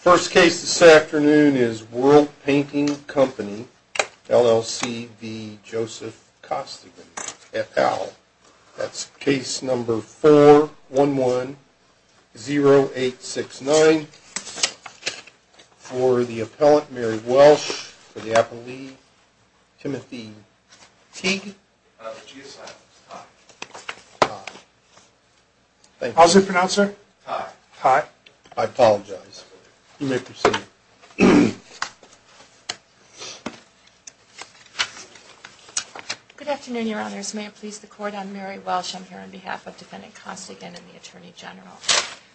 First case this afternoon is World Painting Company, LLC v. Joseph Costigan, et al. That's case number 411-0869. For the appellant, Mary Welsh. For the appellee, Timothy Teague. I apologize. You may proceed. Good afternoon, Your Honors. May it please the Court, I'm Mary Welsh. I'm here on behalf of Defendant Costigan and the Attorney General.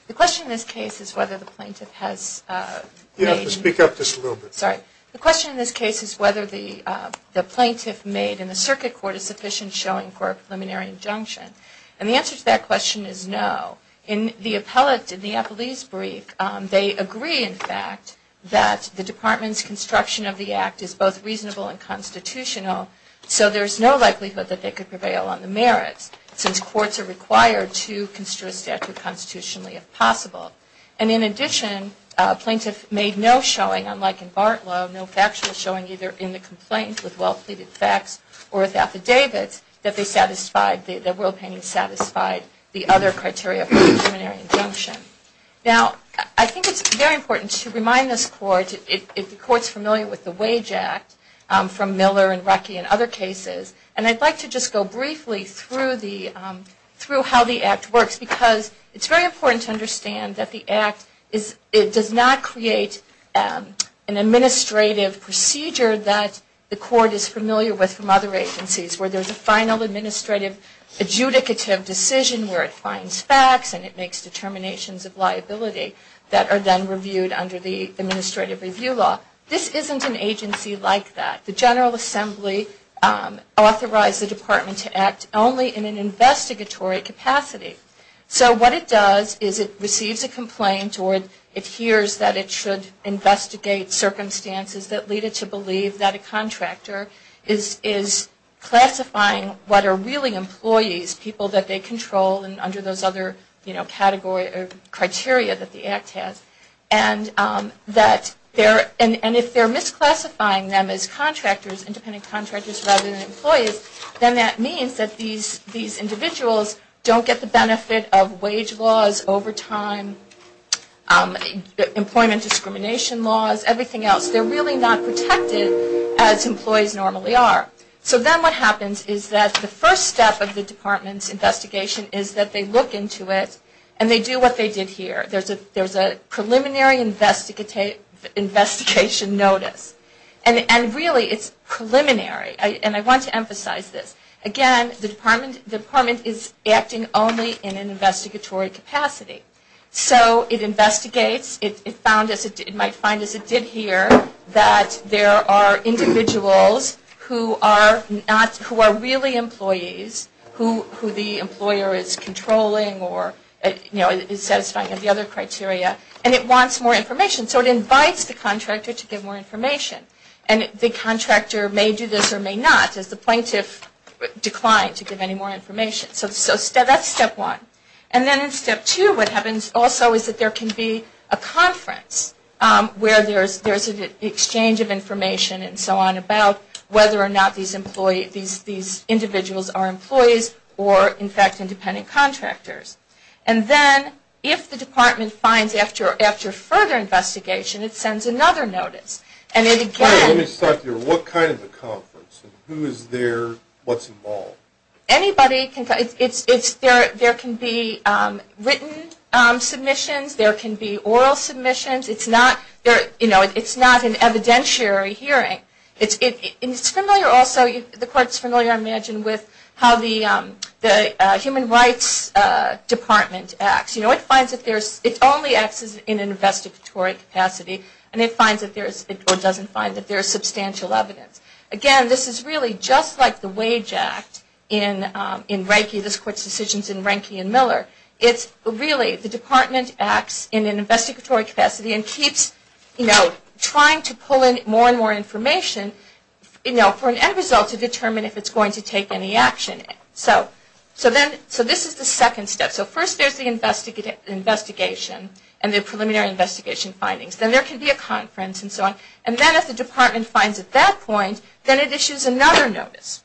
The question in this case is whether the plaintiff has made... You'll have to speak up just a little bit. Sorry. The question in this case is whether the plaintiff made in the circuit court a sufficient showing for a preliminary injunction. And the answer to that question is no. In the appellee's brief, they agree, in fact, that the Department's construction of the Act is both reasonable and constitutional, so there's no likelihood that they could prevail on the merits since courts are required to construe a statute constitutionally if possible. And in addition, a plaintiff made no showing, unlike in Bartlow, no factual showing either in the complaint with well-pleaded facts or with affidavits that World Painting satisfied the other criteria for a preliminary injunction. Now, I think it's very important to remind this Court, if the Court's familiar with the Wage Act from Miller and Ruckey and other cases, and I'd like to just go briefly through how the Act works because it's very important to understand that the Act does not create an administrative procedure that the Court is familiar with from other agencies where there's a final administrative adjudicative decision where it finds facts and it makes determinations of liability that are then reviewed under the administrative review law. This isn't an agency like that. The General Assembly authorized the Department to act only in an investigatory capacity. So what it does is it receives a complaint or it hears that it should investigate circumstances that lead it to believe that a contractor is classifying what are really employees, people that they control under those other criteria that the Act has. And if they're misclassifying them as contractors, independent contractors rather than employees, then that means that these individuals don't get the benefit of wage laws, overtime, employment discrimination laws, everything else. They're really not protected as employees normally are. So then what happens is that the first step of the Department's investigation is that they look into it and they do what they did here. There's a preliminary investigation notice. And really it's preliminary. And I want to emphasize this. Again, the Department is acting only in an investigatory capacity. So it investigates. It might find, as it did here, that there are individuals who are really employees who the employer is controlling or is satisfying of the other criteria and it wants more information. So it invites the contractor to give more information. And the contractor may do this or may not as the plaintiff declined to give any more information. So that's step one. And then in step two what happens also is that there can be a conference where there's an exchange of information and so on about whether or not these individuals are employees or in fact independent contractors. And then if the Department finds after further investigation it sends another notice. And it again... Let me start there. What kind of a conference? Who is there? What's involved? Anybody. There can be written submissions. There can be oral submissions. It's not an evidentiary hearing. It's familiar also... The Court's familiar, I imagine, with how the Human Rights Department acts. You know, it finds that there's... It only acts in an investigatory capacity. And it finds that there's... Or doesn't find that there's substantial evidence. Again, this is really just like the Wage Act in Reiki. This Court's decisions in Reiki and Miller. It's really the Department acts in an investigatory capacity and keeps, you know, trying to pull in more and more information, you know, for an end result to determine if it's going to take any action. So this is the second step. So first there's the investigation and the preliminary investigation findings. Then there can be a conference and so on. And then if the Department finds at that point, then it issues another notice.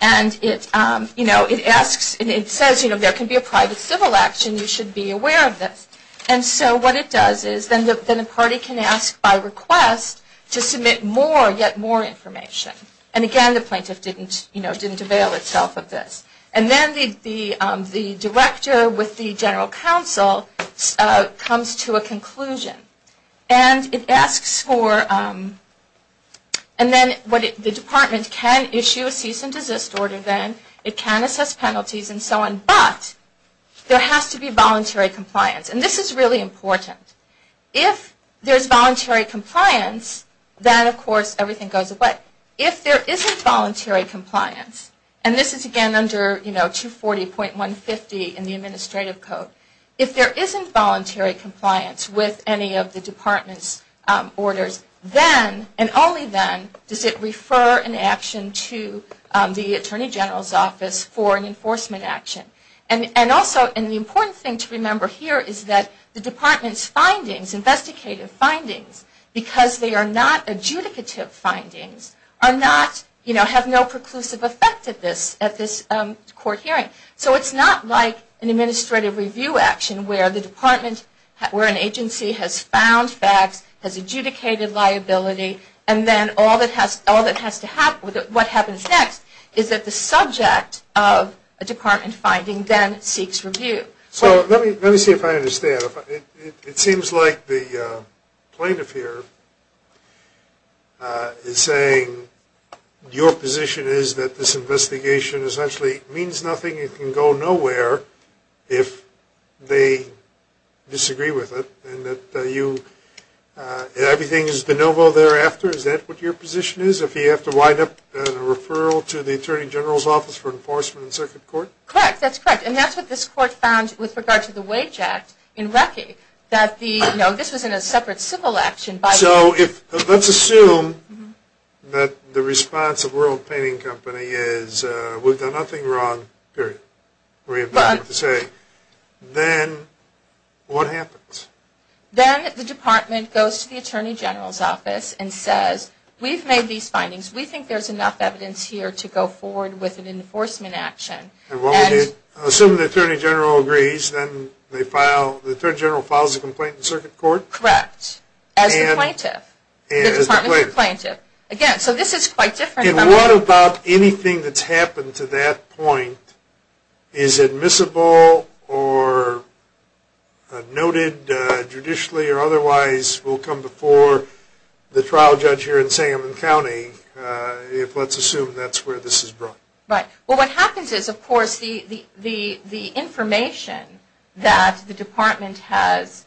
And it, you know, it asks... It says, you know, there can be a private civil action. You should be aware of this. And so what it does is then the party can ask by request to submit more, yet more information. And again, the plaintiff didn't, you know, didn't avail itself of this. And then the Director with the General Counsel comes to a conclusion. And it asks for... And then the Department can issue a cease and desist order then. It can assess penalties and so on. But there has to be voluntary compliance. And this is really important. If there's voluntary compliance, then of course everything goes away. If there isn't voluntary compliance, and this is again under, you know, 240.150 in the Administrative Code, if there isn't voluntary compliance with any of the Department's orders, then, and only then, does it refer an action to the Attorney General's Office for an enforcement action. And also, and the important thing to remember here is that the Department's findings, investigative findings, because they are not adjudicative findings, are not, you know, have no preclusive effect at this court hearing. So it's not like an administrative review action where the Department, where an agency has found facts, has adjudicated liability, and then all that has to happen, what happens next, is that the subject of a Department finding then seeks review. So let me see if I understand. It seems like the plaintiff here is saying, your position is that this investigation essentially means nothing, it can go nowhere if they disagree with it, and that you, everything is de novo thereafter? Is that what your position is? If you have to wind up a referral to the Attorney General's Office for Enforcement in Circuit Court? Correct, that's correct. And that's what this court found with regard to the Wage Act in Wacky, that the, you know, this was in a separate civil action. So if, let's assume that the response of World Painting Company is, we've done nothing wrong, period. We have nothing to say. Then what happens? Then the Department goes to the Attorney General's Office and says, we've made these findings, we think there's enough evidence here to go forward with an enforcement action. Assuming the Attorney General agrees, then they file, the Attorney General files a complaint in Circuit Court? Correct. As the plaintiff? As the plaintiff. Again, so this is quite different. And what about anything that's happened to that point, is admissible or noted judicially or otherwise, will come before the trial judge here in Salem County, if let's assume that's where this is brought? Right. Well, what happens is, of course, the information that the Department has,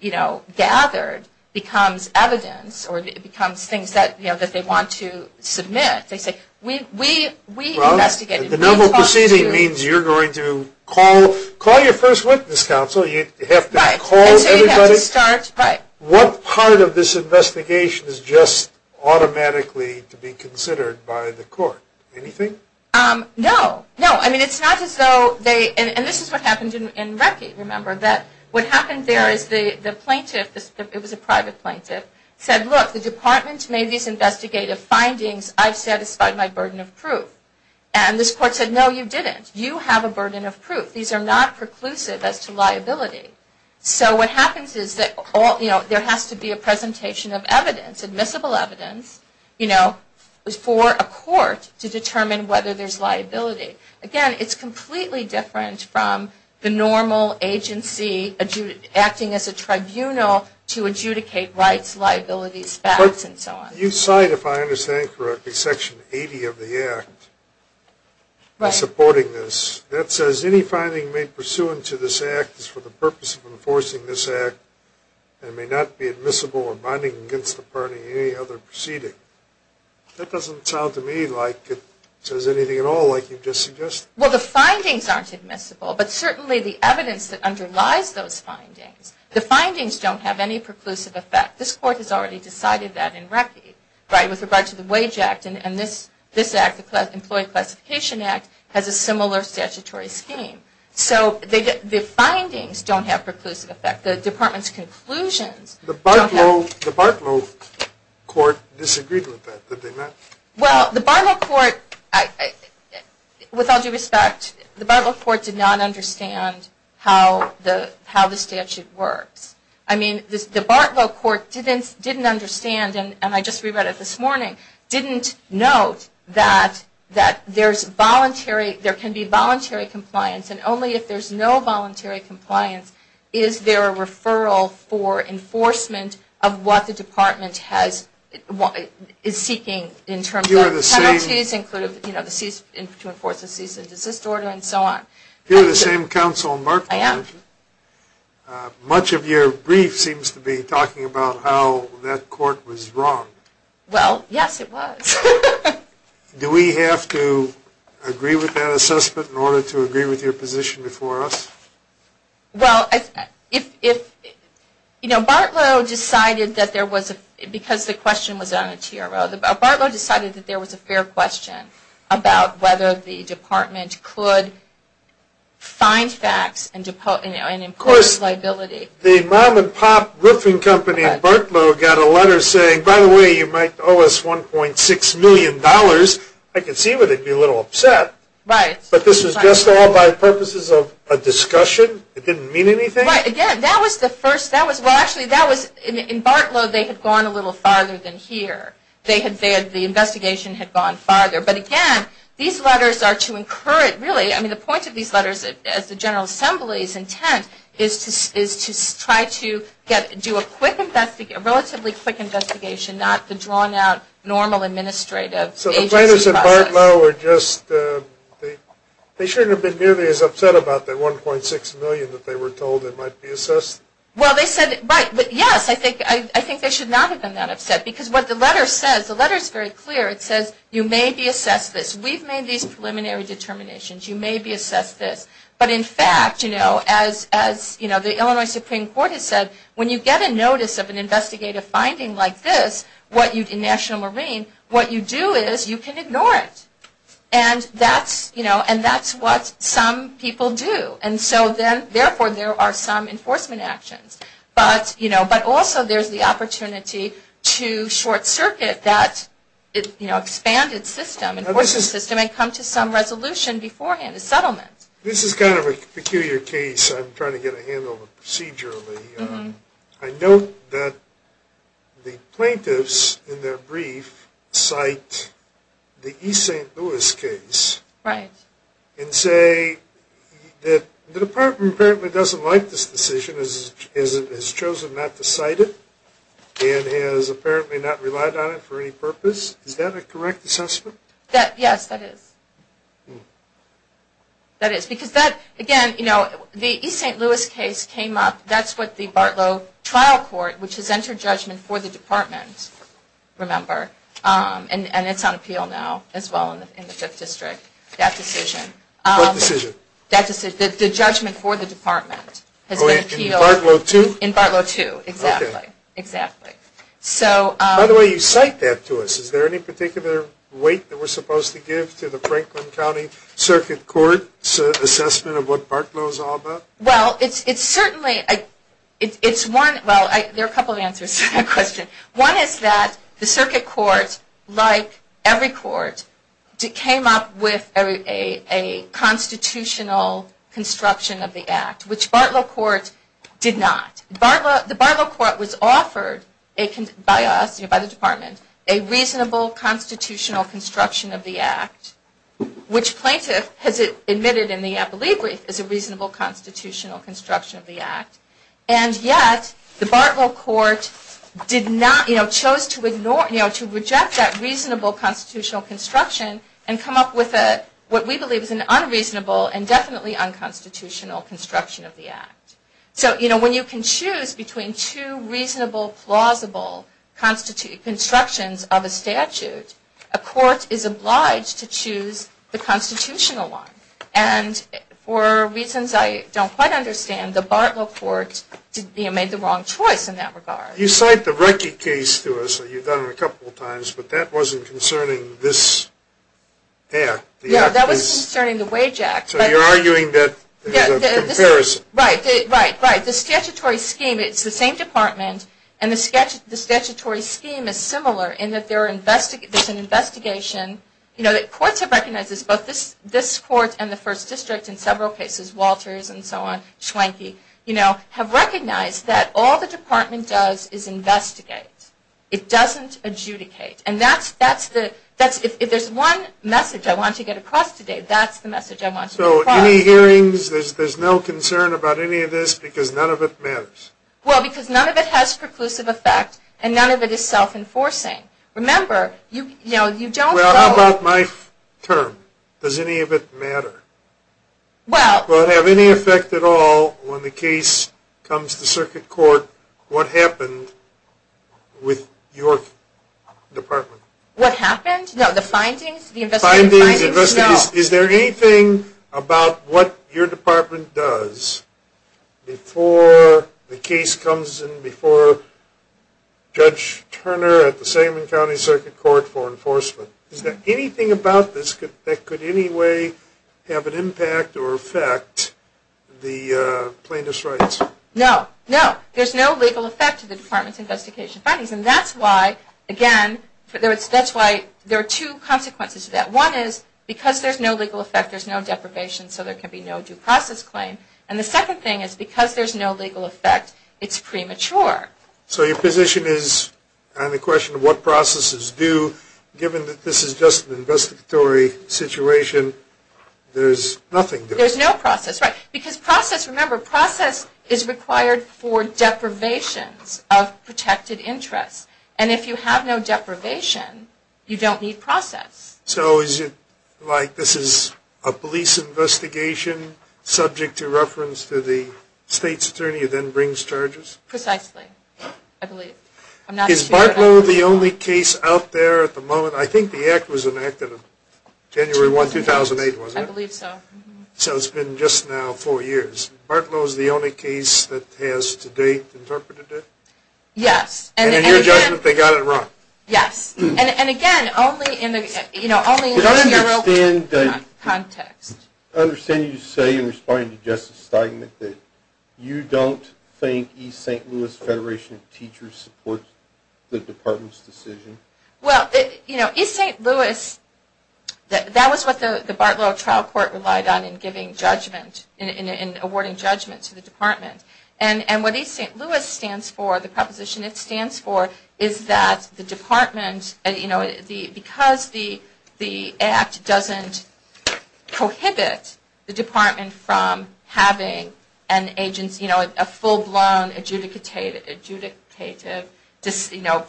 you know, gathered, becomes evidence or it becomes things that they want to submit. They say, we investigated. Well, the noble proceeding means you're going to call your first witness counsel, you have to call everybody. Right, and so you have to start, right. What part of this investigation is just automatically to be considered by the court? Anything? No. No, I mean, it's not as though they, and this is what happened in Recce, remember, that what happened there is the plaintiff, it was a private plaintiff, said, look, the Department made these investigative findings. I've satisfied my burden of proof. And this court said, no, you didn't. You have a burden of proof. These are not preclusive as to liability. So what happens is that there has to be a presentation of evidence, admissible evidence, you know, for a court to determine whether there's liability. Again, it's completely different from the normal agency acting as a tribunal to adjudicate rights, liabilities, facts, and so on. But you cite, if I understand correctly, Section 80 of the Act supporting this. That says, any finding made pursuant to this Act is for the purpose of enforcing this Act and may not be admissible or binding against the party in any other proceeding. That doesn't sound to me like it says anything at all, like you've just suggested. Well, the findings aren't admissible, but certainly the evidence that underlies those findings. The findings don't have any preclusive effect. This court has already decided that in Recce, right, with regard to the Wage Act, and this Act, the Employee Classification Act, has a similar statutory scheme. So the findings don't have preclusive effect. The Department's conclusions don't have. The Bartlow court disagreed with that, that they met. Well, the Bartlow court, with all due respect, the Bartlow court did not understand how the statute works. I mean, the Bartlow court didn't understand, and I just re-read it this morning, didn't note that there can be voluntary compliance, and only if there's no voluntary compliance is there a referral for enforcement of what the Department is seeking in terms of penalties, including to enforce a cease and desist order, and so on. You're the same counsel, Mark, aren't you? I am. Much of your brief seems to be talking about how that court was wrong. Well, yes, it was. Do we have to agree with that assessment in order to agree with your position before us? Well, if, you know, Bartlow decided that there was a, because the question was on a TRO, Bartlow decided that there was a fair question about whether the Department could find facts and impose liability. Of course, the mom and pop roofing company in Bartlow got a letter saying, by the way, you might owe us $1.6 million. I can see where they'd be a little upset. Right. But this was just all by purposes of a discussion? It didn't mean anything? Right. Again, that was the first. Well, actually, in Bartlow, they had gone a little farther than here. The investigation had gone farther. But, again, these letters are to encourage, really, I mean the point of these letters, as the General Assembly's intent, is to try to do a relatively quick investigation, not the drawn out normal administrative agency process. So the plaintiffs in Bartlow are just, they shouldn't have been nearly as upset about that $1.6 million that they were told it might be assessed? Well, they said it might. But, yes, I think they should not have been that upset. Because what the letter says, the letter's very clear. It says, you may be assessed this. We've made these preliminary determinations. You may be assessed this. But, in fact, you know, as, you know, the Illinois Supreme Court has said, when you get a notice of an investigative finding like this, in National Marine, what you do is you can ignore it. And that's, you know, and that's what some people do. And so then, therefore, there are some enforcement actions. But, you know, but also there's the opportunity to short circuit that, you know, expanded system, enforcement system, and come to some resolution beforehand, a settlement. This is kind of a peculiar case. I'm trying to get a handle on the procedure of it. I note that the plaintiffs, in their brief, cite the East St. Louis case. Right. And say that the department apparently doesn't like this decision, has chosen not to cite it, and has apparently not relied on it for any purpose. Is that a correct assessment? Yes, that is. That is. Because that, again, you know, the East St. Louis case came up. That's what the Bartlow trial court, which has entered judgment for the department, remember, and it's on appeal now as well in the 5th District, that decision. What decision? The judgment for the department has been appealed. In Bartlow 2? In Bartlow 2, exactly. Okay. Exactly. By the way, you cite that to us. Is there any particular weight that we're supposed to give to the Franklin County Circuit Court's assessment of what Bartlow is all about? Well, it's certainly, it's one, well, there are a couple of answers to that question. One is that the circuit court, like every court, came up with a constitutional construction of the act, which Bartlow court did not. The Bartlow court was offered by us, by the department, a reasonable constitutional construction of the act, which plaintiff has admitted in the appellee brief is a reasonable constitutional construction of the act. And yet, the Bartlow court did not, you know, chose to ignore, you know, to reject that reasonable constitutional construction and come up with what we believe is an unreasonable and definitely unconstitutional construction of the act. So, you know, when you can choose between two reasonable, plausible constructions of a statute, a court is obliged to choose the constitutional one. And for reasons I don't quite understand, the Bartlow court made the wrong choice in that regard. You cite the Recce case to us, you've done it a couple of times, but that wasn't concerning this act. Yeah, that was concerning the wage act. So you're arguing that there's a comparison. Right, right, right. The statutory scheme, it's the same department, and the statutory scheme is similar in that there's an investigation, you know, that courts have recognized this, both this court and the first district in several cases, Walters and so on, Schwenke, you know, have recognized that all the department does is investigate. It doesn't adjudicate. And that's the, if there's one message I want to get across today, that's the message I want to get across. So any hearings, there's no concern about any of this because none of it matters? Well, because none of it has preclusive effect, and none of it is self-enforcing. Remember, you know, you don't go. Well, how about my term? Does any of it matter? Well. Will it have any effect at all when the case comes to circuit court, what happened with your department? What happened? No, the findings? The investigative findings? No. Is there anything about what your department does before the case comes and before Judge Turner at the Selman County Circuit Court for enforcement? Is there anything about this that could in any way have an impact or affect the plaintiff's rights? No. No. There's no legal effect to the department's investigation findings, and that's why, again, that's why there are two consequences to that. One is because there's no legal effect, there's no deprivation, so there can be no due process claim. And the second thing is because there's no legal effect, it's premature. So your position is on the question of what processes do, given that this is just an investigatory situation, there's nothing? There's no process, right, because process, remember, process is required for deprivations of protected interests. And if you have no deprivation, you don't need process. So is it like this is a police investigation subject to reference to the state's attorney who then brings charges? Precisely, I believe. Is Bartlow the only case out there at the moment? I think the act was enacted January 1, 2008, wasn't it? I believe so. So it's been just now four years. Bartlow is the only case that has to date interpreted it? Yes. And in your judgment, they got it wrong? Yes. And, again, only in the real context. I understand you say in responding to Justice Steinmet that you don't think East St. Louis Federation of Teachers supports the department's decision? Well, you know, East St. Louis, that was what the Bartlow trial court relied on in giving judgment, in awarding judgment to the department. And what East St. Louis stands for, the proposition it stands for, is that the department, you know, because the act doesn't prohibit the department from having an agency, you know, a full-blown adjudicative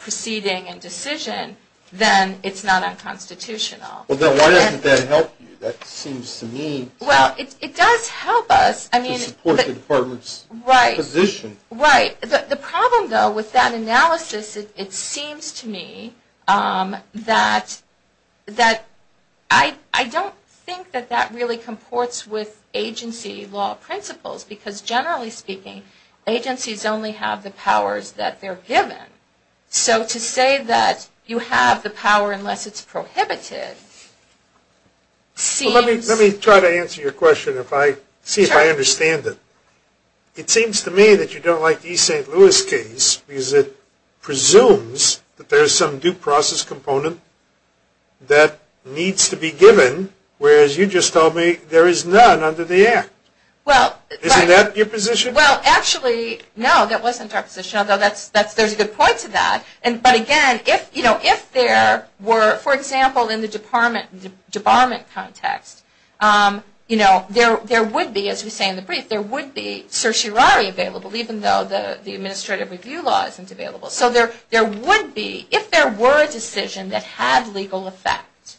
proceeding and decision, then it's not unconstitutional. Well, then why doesn't that help you? Right. Right. The problem, though, with that analysis, it seems to me that I don't think that that really comports with agency law principles because, generally speaking, agencies only have the powers that they're given. So to say that you have the power unless it's prohibited seems Well, let me try to answer your question, see if I understand it. It seems to me that you don't like the East St. Louis case because it presumes that there's some due process component that needs to be given, whereas you just told me there is none under the act. Isn't that your position? Well, actually, no, that wasn't our position, although there's a good point to that. But, again, if there were, for example, in the department context, you know, there would be, as we say in the brief, there would be certiorari available, even though the administrative review law isn't available. So there would be, if there were a decision that had legal effect,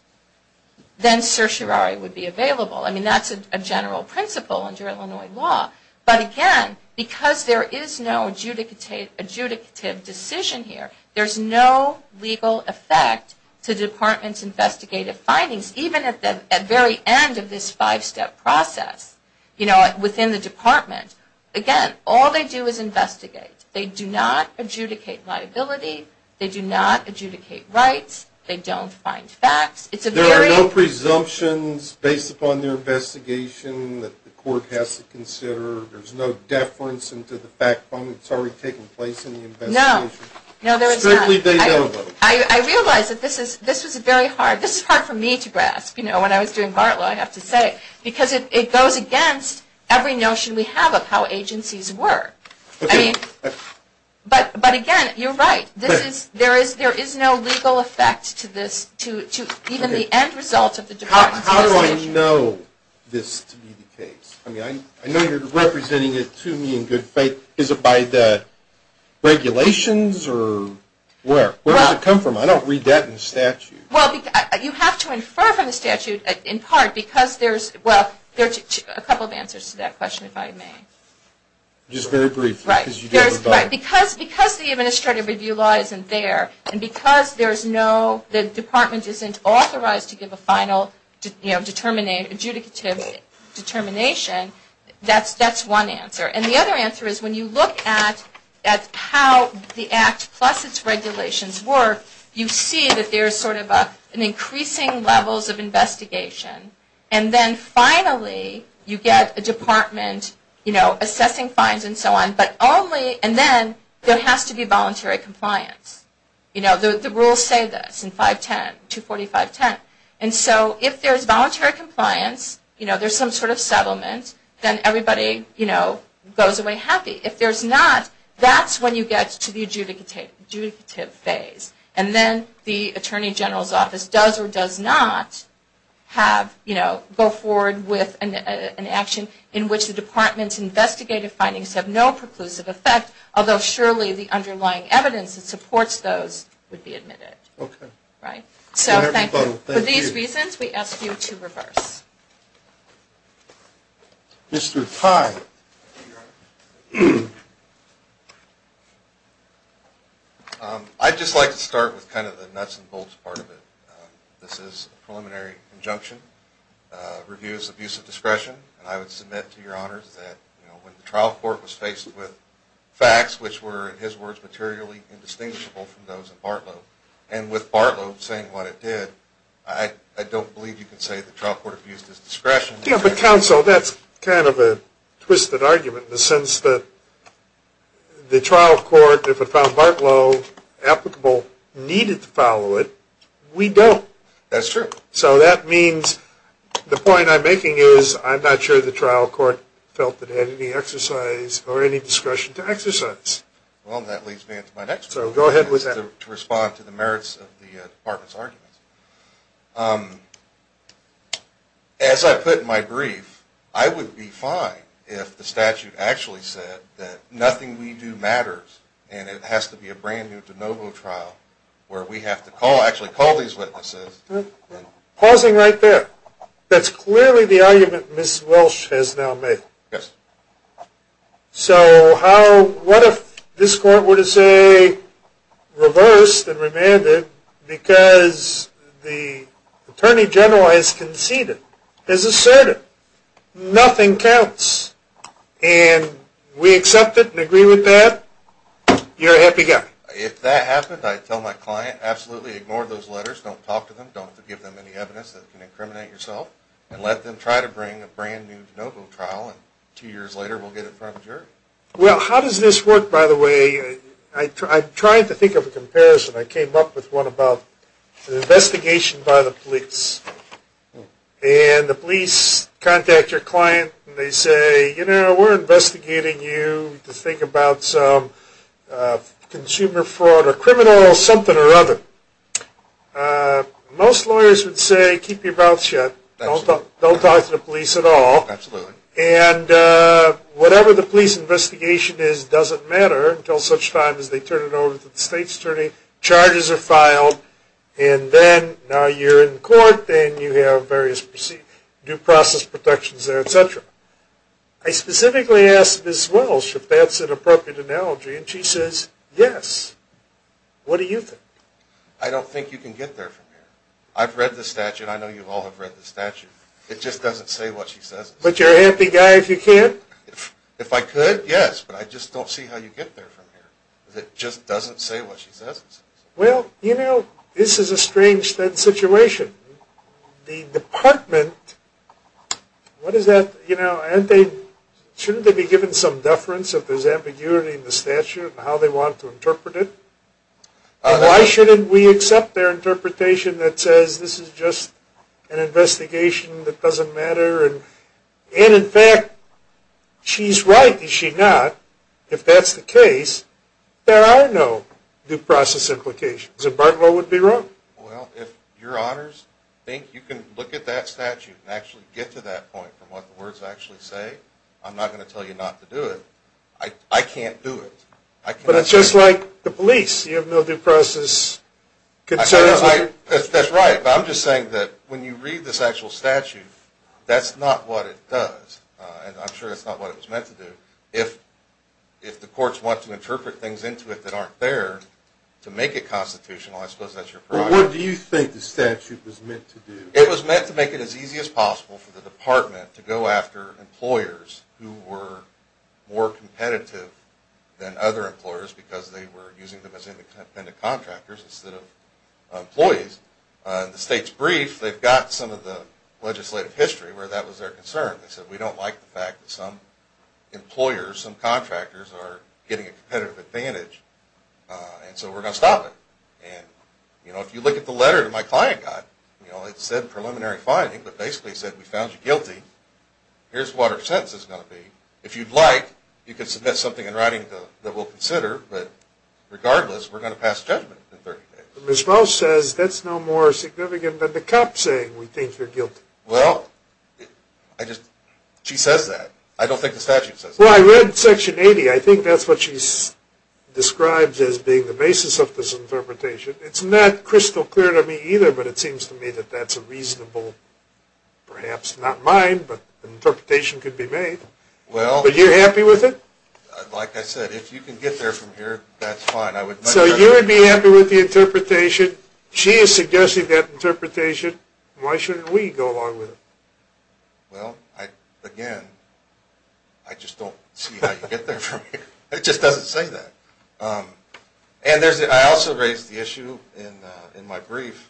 then certiorari would be available. I mean, that's a general principle under Illinois law. But, again, because there is no adjudicative decision here, there's no legal effect to departments' investigative findings, even at the very end of this five-step process, you know, within the department. Again, all they do is investigate. They do not adjudicate liability. They do not adjudicate rights. They don't find facts. There are no presumptions based upon their investigation that the court has to consider. There's no deference into the fact that it's already taken place in the investigation. No, there is not. Strictly, they know though. I realize that this is very hard. This is hard for me to grasp. You know, when I was doing BART law, I have to say, because it goes against every notion we have of how agencies work. But, again, you're right. There is no legal effect to this, to even the end result of the department's investigation. How do I know this to be the case? I mean, I know you're representing it to me in good faith. Is it by the regulations or where? Where does it come from? I don't read that in the statute. Well, you have to infer from the statute, in part, because there's, well, a couple of answers to that question, if I may. Just very briefly. Right. Because the administrative review law isn't there, and because there's no, the department isn't authorized to give a final adjudicative determination, that's one answer. And the other answer is when you look at how the act plus its regulations work, you see that there's sort of an increasing levels of investigation. And then, finally, you get a department, you know, assessing fines and so on, but only, and then there has to be voluntary compliance. You know, the rules say this in 510, 245.10. And so if there's voluntary compliance, you know, there's some sort of settlement, then everybody, you know, goes away happy. If there's not, that's when you get to the adjudicative phase. And then the attorney general's office does or does not have, you know, go forward with an action in which the department's investigative findings have no preclusive effect, although surely the underlying evidence that supports those would be admitted. Okay. Right. So thank you. For these reasons, we ask you to reverse. Mr. Tye. I'd just like to start with kind of the nuts and bolts part of it. This is a preliminary injunction, reviews of use of discretion, and I would submit to your honors that, you know, when the trial court was faced with facts which were, in his words, materially indistinguishable from those of Bartlow, and with Bartlow saying what it did, I don't believe you can say that the trial court approved it. Yeah, but counsel, that's kind of a twisted argument in the sense that the trial court, if it found Bartlow applicable, needed to follow it. We don't. That's true. So that means the point I'm making is I'm not sure the trial court felt it had any exercise or any discretion to exercise. Well, that leads me into my next one. So go ahead with that. To respond to the merits of the department's arguments. As I put in my brief, I would be fine if the statute actually said that nothing we do matters and it has to be a brand-new de novo trial where we have to actually call these witnesses. Pausing right there. That's clearly the argument Ms. Welch has now made. Yes. So what if this court were to say, reversed and remanded, because the attorney general has conceded, has asserted, nothing counts, and we accept it and agree with that, you're a happy guy? If that happened, I'd tell my client, absolutely ignore those letters, don't talk to them, don't give them any evidence that can incriminate yourself, and let them try to bring a brand-new de novo trial, and two years later we'll get it in front of the jury. Well, how does this work, by the way? I tried to think of a comparison. I came up with one about an investigation by the police, and the police contact your client and they say, you know, we're investigating you to think about some consumer fraud or criminal something or other. Most lawyers would say keep your mouth shut, don't talk to the police at all, and whatever the police investigation is doesn't matter until such time as they turn it over to the state's attorney, charges are filed, and then now you're in court, then you have various due process protections, et cetera. I specifically asked Ms. Wells if that's an appropriate analogy, and she says yes. What do you think? I don't think you can get there from here. I've read the statute. I know you all have read the statute. It just doesn't say what she says. But you're a happy guy if you can? If I could, yes, but I just don't see how you get there from here. It just doesn't say what she says. Well, you know, this is a strange situation. The department, what is that, you know, shouldn't they be given some deference if there's ambiguity in the statute and how they want to interpret it? Why shouldn't we accept their interpretation that says this is just an investigation that doesn't matter, and, in fact, she's right, is she not? If that's the case, there are no due process implications, and Bartlow would be wrong. Well, if your honors think you can look at that statute and actually get to that point from what the words actually say, I'm not going to tell you not to do it. I can't do it. But it's just like the police. You have no due process concerns. That's right, but I'm just saying that when you read this actual statute, that's not what it does, and I'm sure that's not what it was meant to do. If the courts want to interpret things into it that aren't fair, to make it constitutional, I suppose that's your problem. Well, what do you think the statute was meant to do? It was meant to make it as easy as possible for the department to go after employers who were more competitive than other employers because they were using them as independent contractors instead of employees. In the state's brief, they've got some of the legislative history where that was their concern. They said, we don't like the fact that some employers, some contractors are getting a competitive advantage, and so we're going to stop it. If you look at the letter that my client got, it said preliminary finding, but basically it said we found you guilty. Here's what our sentence is going to be. If you'd like, you can submit something in writing that we'll consider, but regardless, we're going to pass judgment in 30 days. Ms. Moe says that's no more significant than the cop saying we think you're guilty. Well, she says that. I don't think the statute says that. Well, I read Section 80. I think that's what she describes as being the basis of this interpretation. It's not crystal clear to me either, but it seems to me that that's a reasonable, perhaps not mine, but an interpretation could be made. But you're happy with it? Like I said, if you can get there from here, that's fine. So you would be happy with the interpretation. She is suggesting that interpretation. Why shouldn't we go along with it? Well, again, I just don't see how you get there from here. It just doesn't say that. I also raised the issue in my brief.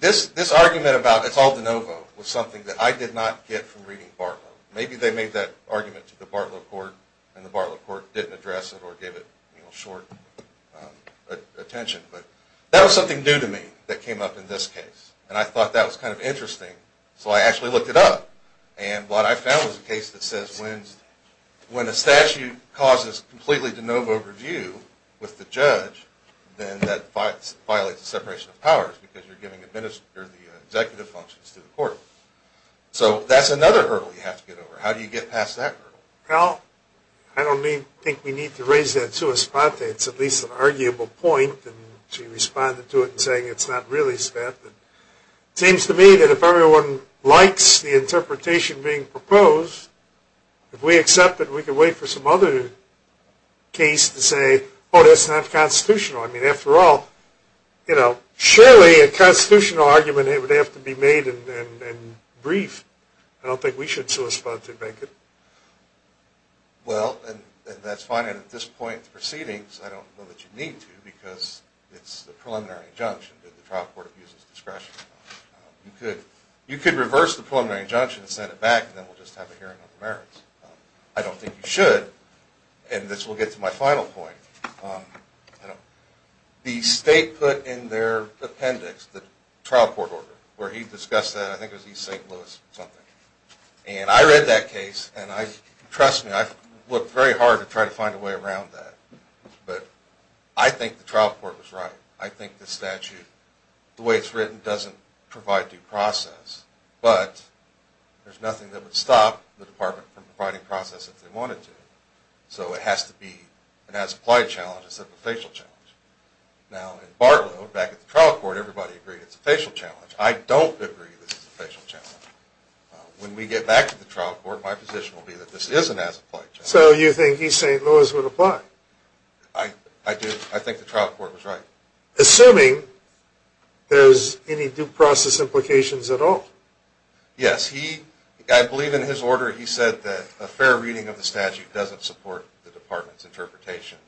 This argument about it's all de novo was something that I did not get from reading Bartlow. Maybe they made that argument to the Bartlow court and the Bartlow court didn't address it or gave it short attention. But that was something new to me that came up in this case, and I thought that was kind of interesting. So I actually looked it up, and what I found was a case that says when a statute causes completely de novo review with the judge, then that violates the separation of powers because you're giving the executive functions to the court. So that's another hurdle you have to get over. How do you get past that hurdle? Well, I don't think we need to raise that to a spot that it's at least an arguable point and she responded to it in saying it's not really, Sveta. It seems to me that if everyone likes the interpretation being proposed, if we accept it, we can wait for some other case to say, oh, that's not constitutional. I mean, after all, surely a constitutional argument would have to be made and briefed. I don't think we should so as far as to make it. Well, that's fine, and at this point in the proceedings, I don't know that you need to because it's the preliminary injunction that the trial court abuses discretion. You could reverse the preliminary injunction and send it back, and then we'll just have a hearing on the merits. I don't think you should, and this will get to my final point. The state put in their appendix the trial court order where he discussed that. I think it was East St. Louis something. And I read that case, and trust me, I've looked very hard to try to find a way around that, but I think the trial court was right. I think the statute, the way it's written, doesn't provide due process, but there's nothing that would stop the department from providing process if they wanted to. So it has to be, it has applied challenges of a facial challenge. Now, in Bartlow, back at the trial court, everybody agreed it's a facial challenge. I don't agree that it's a facial challenge. When we get back to the trial court, my position will be that this is an as-applied challenge. So you think East St. Louis would apply? I do. I think the trial court was right. Assuming there's any due process implications at all. Yes. I believe in his order he said that a fair reading of the statute doesn't support the department's interpretation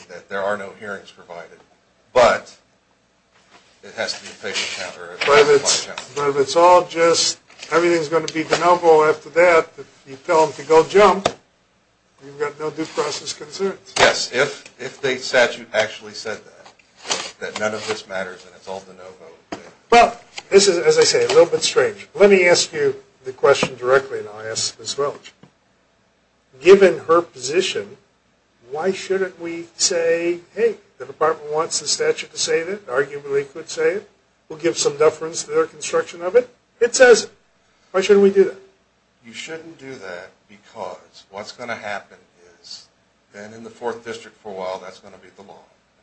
and that there are no hearings provided, but it has to be a facial challenge. But if it's all just, everything's going to be de novo after that, if you tell them to go jump, you've got no due process concerns. Yes, if the statute actually said that, that none of this matters and it's all de novo. Well, this is, as I say, a little bit strange. Let me ask you the question directly, and I'll ask as well. Given her position, why shouldn't we say, hey, the department wants the statute to say that, arguably could say it, we'll give some deference to their construction of it, it says it. Why shouldn't we do that? You shouldn't do that because what's going to happen is, then in the fourth district for a while that's going to be the law.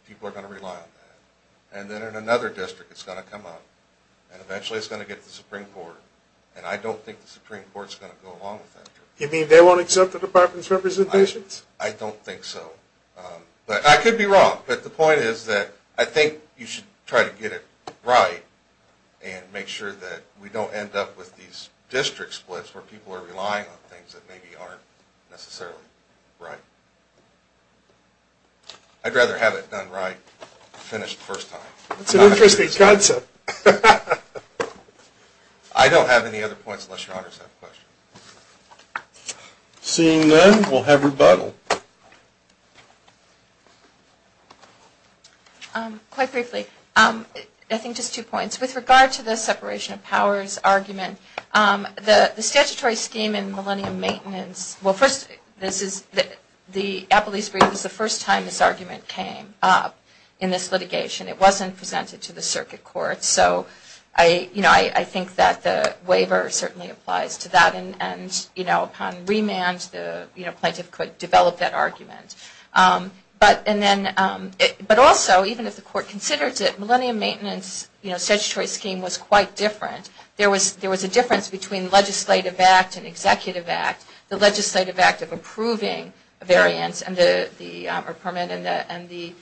People are going to rely on that. And then in another district it's going to come up, and eventually it's going to get to the Supreme Court. And I don't think the Supreme Court's going to go along with that. You mean they won't accept the department's representations? I don't think so. But I could be wrong. But the point is that I think you should try to get it right and make sure that we don't end up with these district splits where people are relying on things that maybe aren't necessarily right. I'd rather have it done right, finished first time. That's an interesting concept. I don't have any other points unless Your Honor has a question. Seeing none, we'll have rebuttal. Quite briefly, I think just two points. With regard to the separation of powers argument, the statutory scheme in Millennium Maintenance, well first the Appellee's Brief was the first time this argument came up in this litigation. It wasn't presented to the Circuit Court. So I think that the waiver certainly applies to that. And upon remand, the plaintiff could develop that argument. But also, even if the Court considers it, Millennium Maintenance statutory scheme was quite different. There was a difference between legislative act and executive act. The legislative act of approving a variance or permit and the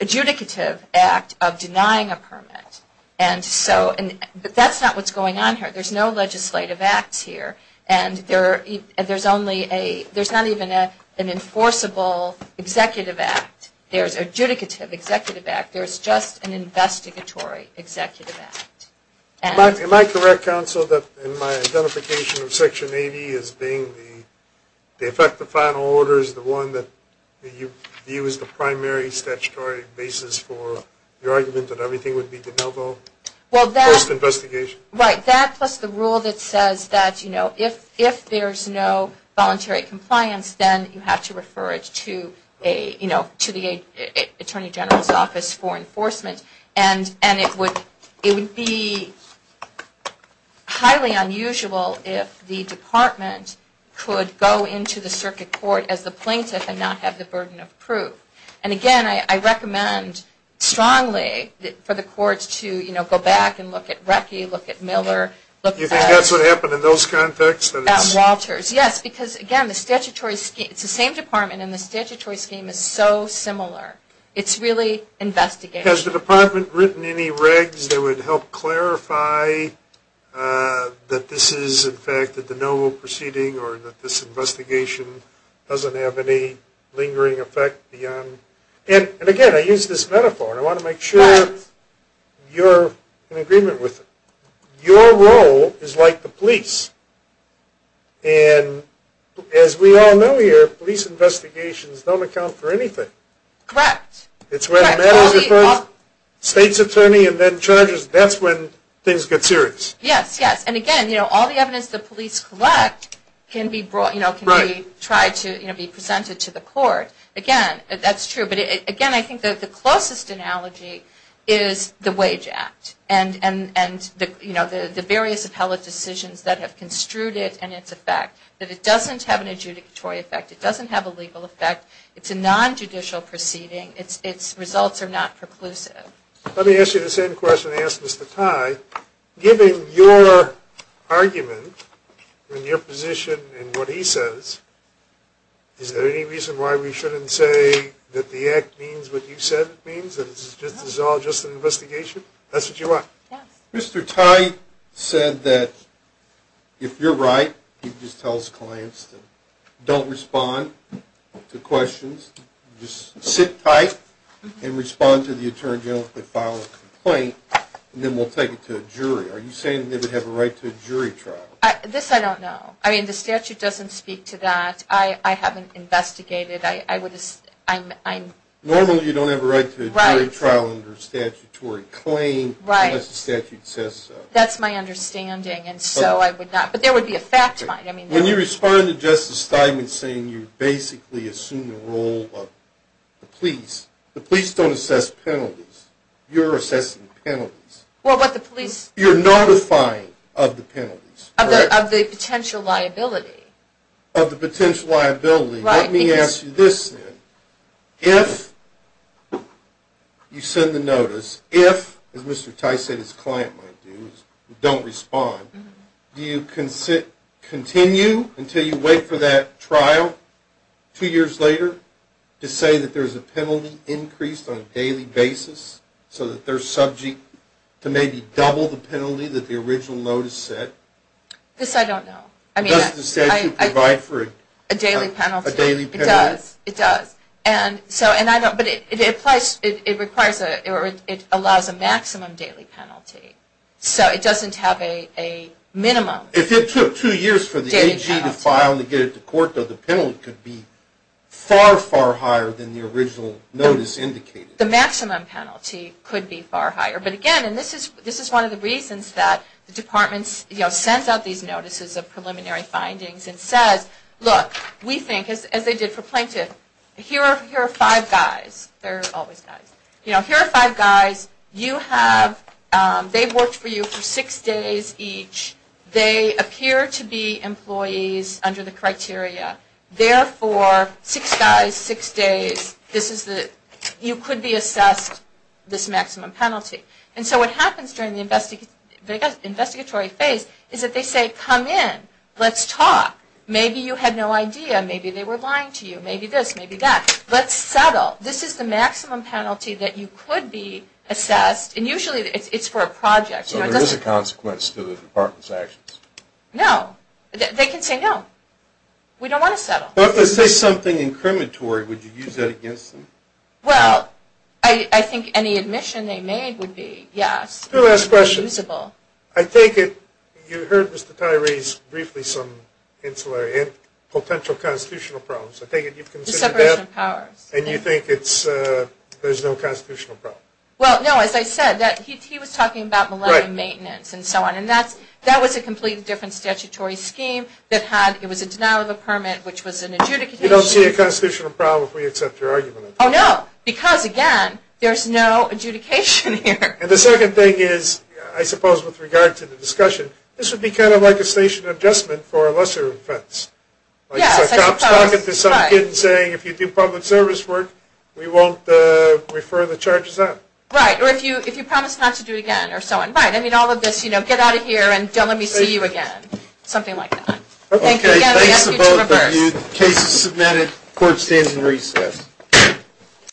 adjudicative act of denying a permit. And so that's not what's going on here. There's no legislative acts here. And there's not even an enforceable executive act. There's adjudicative executive act. There's just an investigatory executive act. Am I correct, Counsel, that in my identification of Section 80 as being the one that you view as the primary statutory basis for your argument that everything would be de novo post-investigation? Right. That plus the rule that says that if there's no voluntary compliance, then you have to refer it to the Attorney General's Office for enforcement. And it would be highly unusual if the Department could go into the Circuit Court as the plaintiff and not have the burden of proof. And, again, I recommend strongly for the courts to, you know, go back and look at Recchi, look at Miller. You think that's what happened in those contexts? At Walters, yes. Because, again, the statutory scheme, it's the same Department and the statutory scheme is so similar. It's really investigation. Has the Department written any regs that would help clarify that this is, again, doesn't have any lingering effect beyond. And, again, I use this metaphor, and I want to make sure you're in agreement with it. Your role is like the police, and as we all know here, police investigations don't account for anything. Correct. It's when the matter's with the state's attorney and then charges, that's when things get serious. Yes, yes. And, again, you know, all the evidence the police collect can be brought, you know, can be tried to, you know, be presented to the court. Again, that's true. But, again, I think that the closest analogy is the Wage Act and, you know, the various appellate decisions that have construed it and its effect, that it doesn't have an adjudicatory effect. It doesn't have a legal effect. It's a nonjudicial proceeding. Its results are not preclusive. Let me ask you the same question I asked Mr. Tye. Given your argument and your position and what he says, is there any reason why we shouldn't say that the act means what you said it means, that this is all just an investigation? That's what you want? Yes. Mr. Tye said that if you're right, he just tells clients to don't respond to questions, just sit tight and respond to the attorney general if they file a complaint, and then we'll take it to a jury. Are you saying they would have a right to a jury trial? This I don't know. I mean, the statute doesn't speak to that. I haven't investigated. Normally you don't have a right to a jury trial under a statutory claim unless the statute says so. That's my understanding, and so I would not. But there would be a fact line. When you respond to Justice Steinman saying you basically assume the role of the police, the police don't assess penalties. You're assessing penalties. What about the police? You're notifying of the penalties. Of the potential liability. Of the potential liability. Let me ask you this then. If you send the notice, if, as Mr. Tye said his client might do, don't respond, do you continue until you wait for that trial two years later to say that there's a penalty increased on a daily basis so that they're subject to maybe double the penalty that the original notice said? This I don't know. I mean, does the statute provide for a daily penalty? It does. It does. And so, and I don't, but it applies, it requires, or it allows a maximum daily penalty. So it doesn't have a minimum. If it took two years for the AG to file and get it to court, the penalty could be far, far higher than the original notice indicated. The maximum penalty could be far higher. But again, and this is one of the reasons that the departments, you know, sends out these notices of preliminary findings and says, look, we think as they did for plaintiff, here are five guys. They're always guys. You know, here are five guys. You have, they've worked for you for six days each. They appear to be employees under the criteria. Therefore, six guys, six days, this is the, you could be assessed this maximum penalty. And so what happens during the investigatory phase is that they say, come in. Let's talk. Maybe you had no idea. Maybe they were lying to you. Maybe this. Maybe that. Let's settle. This is the maximum penalty that you could be assessed. And usually it's for a project. So there is a consequence to the department's actions. No. They can say no. We don't want to settle. If they say something incriminatory, would you use that against them? Well, I think any admission they made would be yes. Two last questions. It would be usable. I take it you heard Mr. Tyree's briefly some insular and potential constitutional problems. I take it you've considered that. The separation of powers. And you think it's, there's no constitutional problem. Well, no. As I said, he was talking about malevolent maintenance and so on. And that was a completely different statutory scheme. It was a denial of a permit, which was an adjudication. You don't see a constitutional problem if we accept your argument. Oh, no. Because, again, there's no adjudication here. And the second thing is, I suppose with regard to the discussion, this would be kind of like a station adjustment for a lesser offense. Yes, I suppose. If you do public service work, we won't refer the charges up. Right. Or if you promise not to do it again, or so on. Right. I mean, all of this, you know, get out of here and don't let me see you again. Something like that. Okay. Thanks to both of you. Case is submitted. Court stands in recess.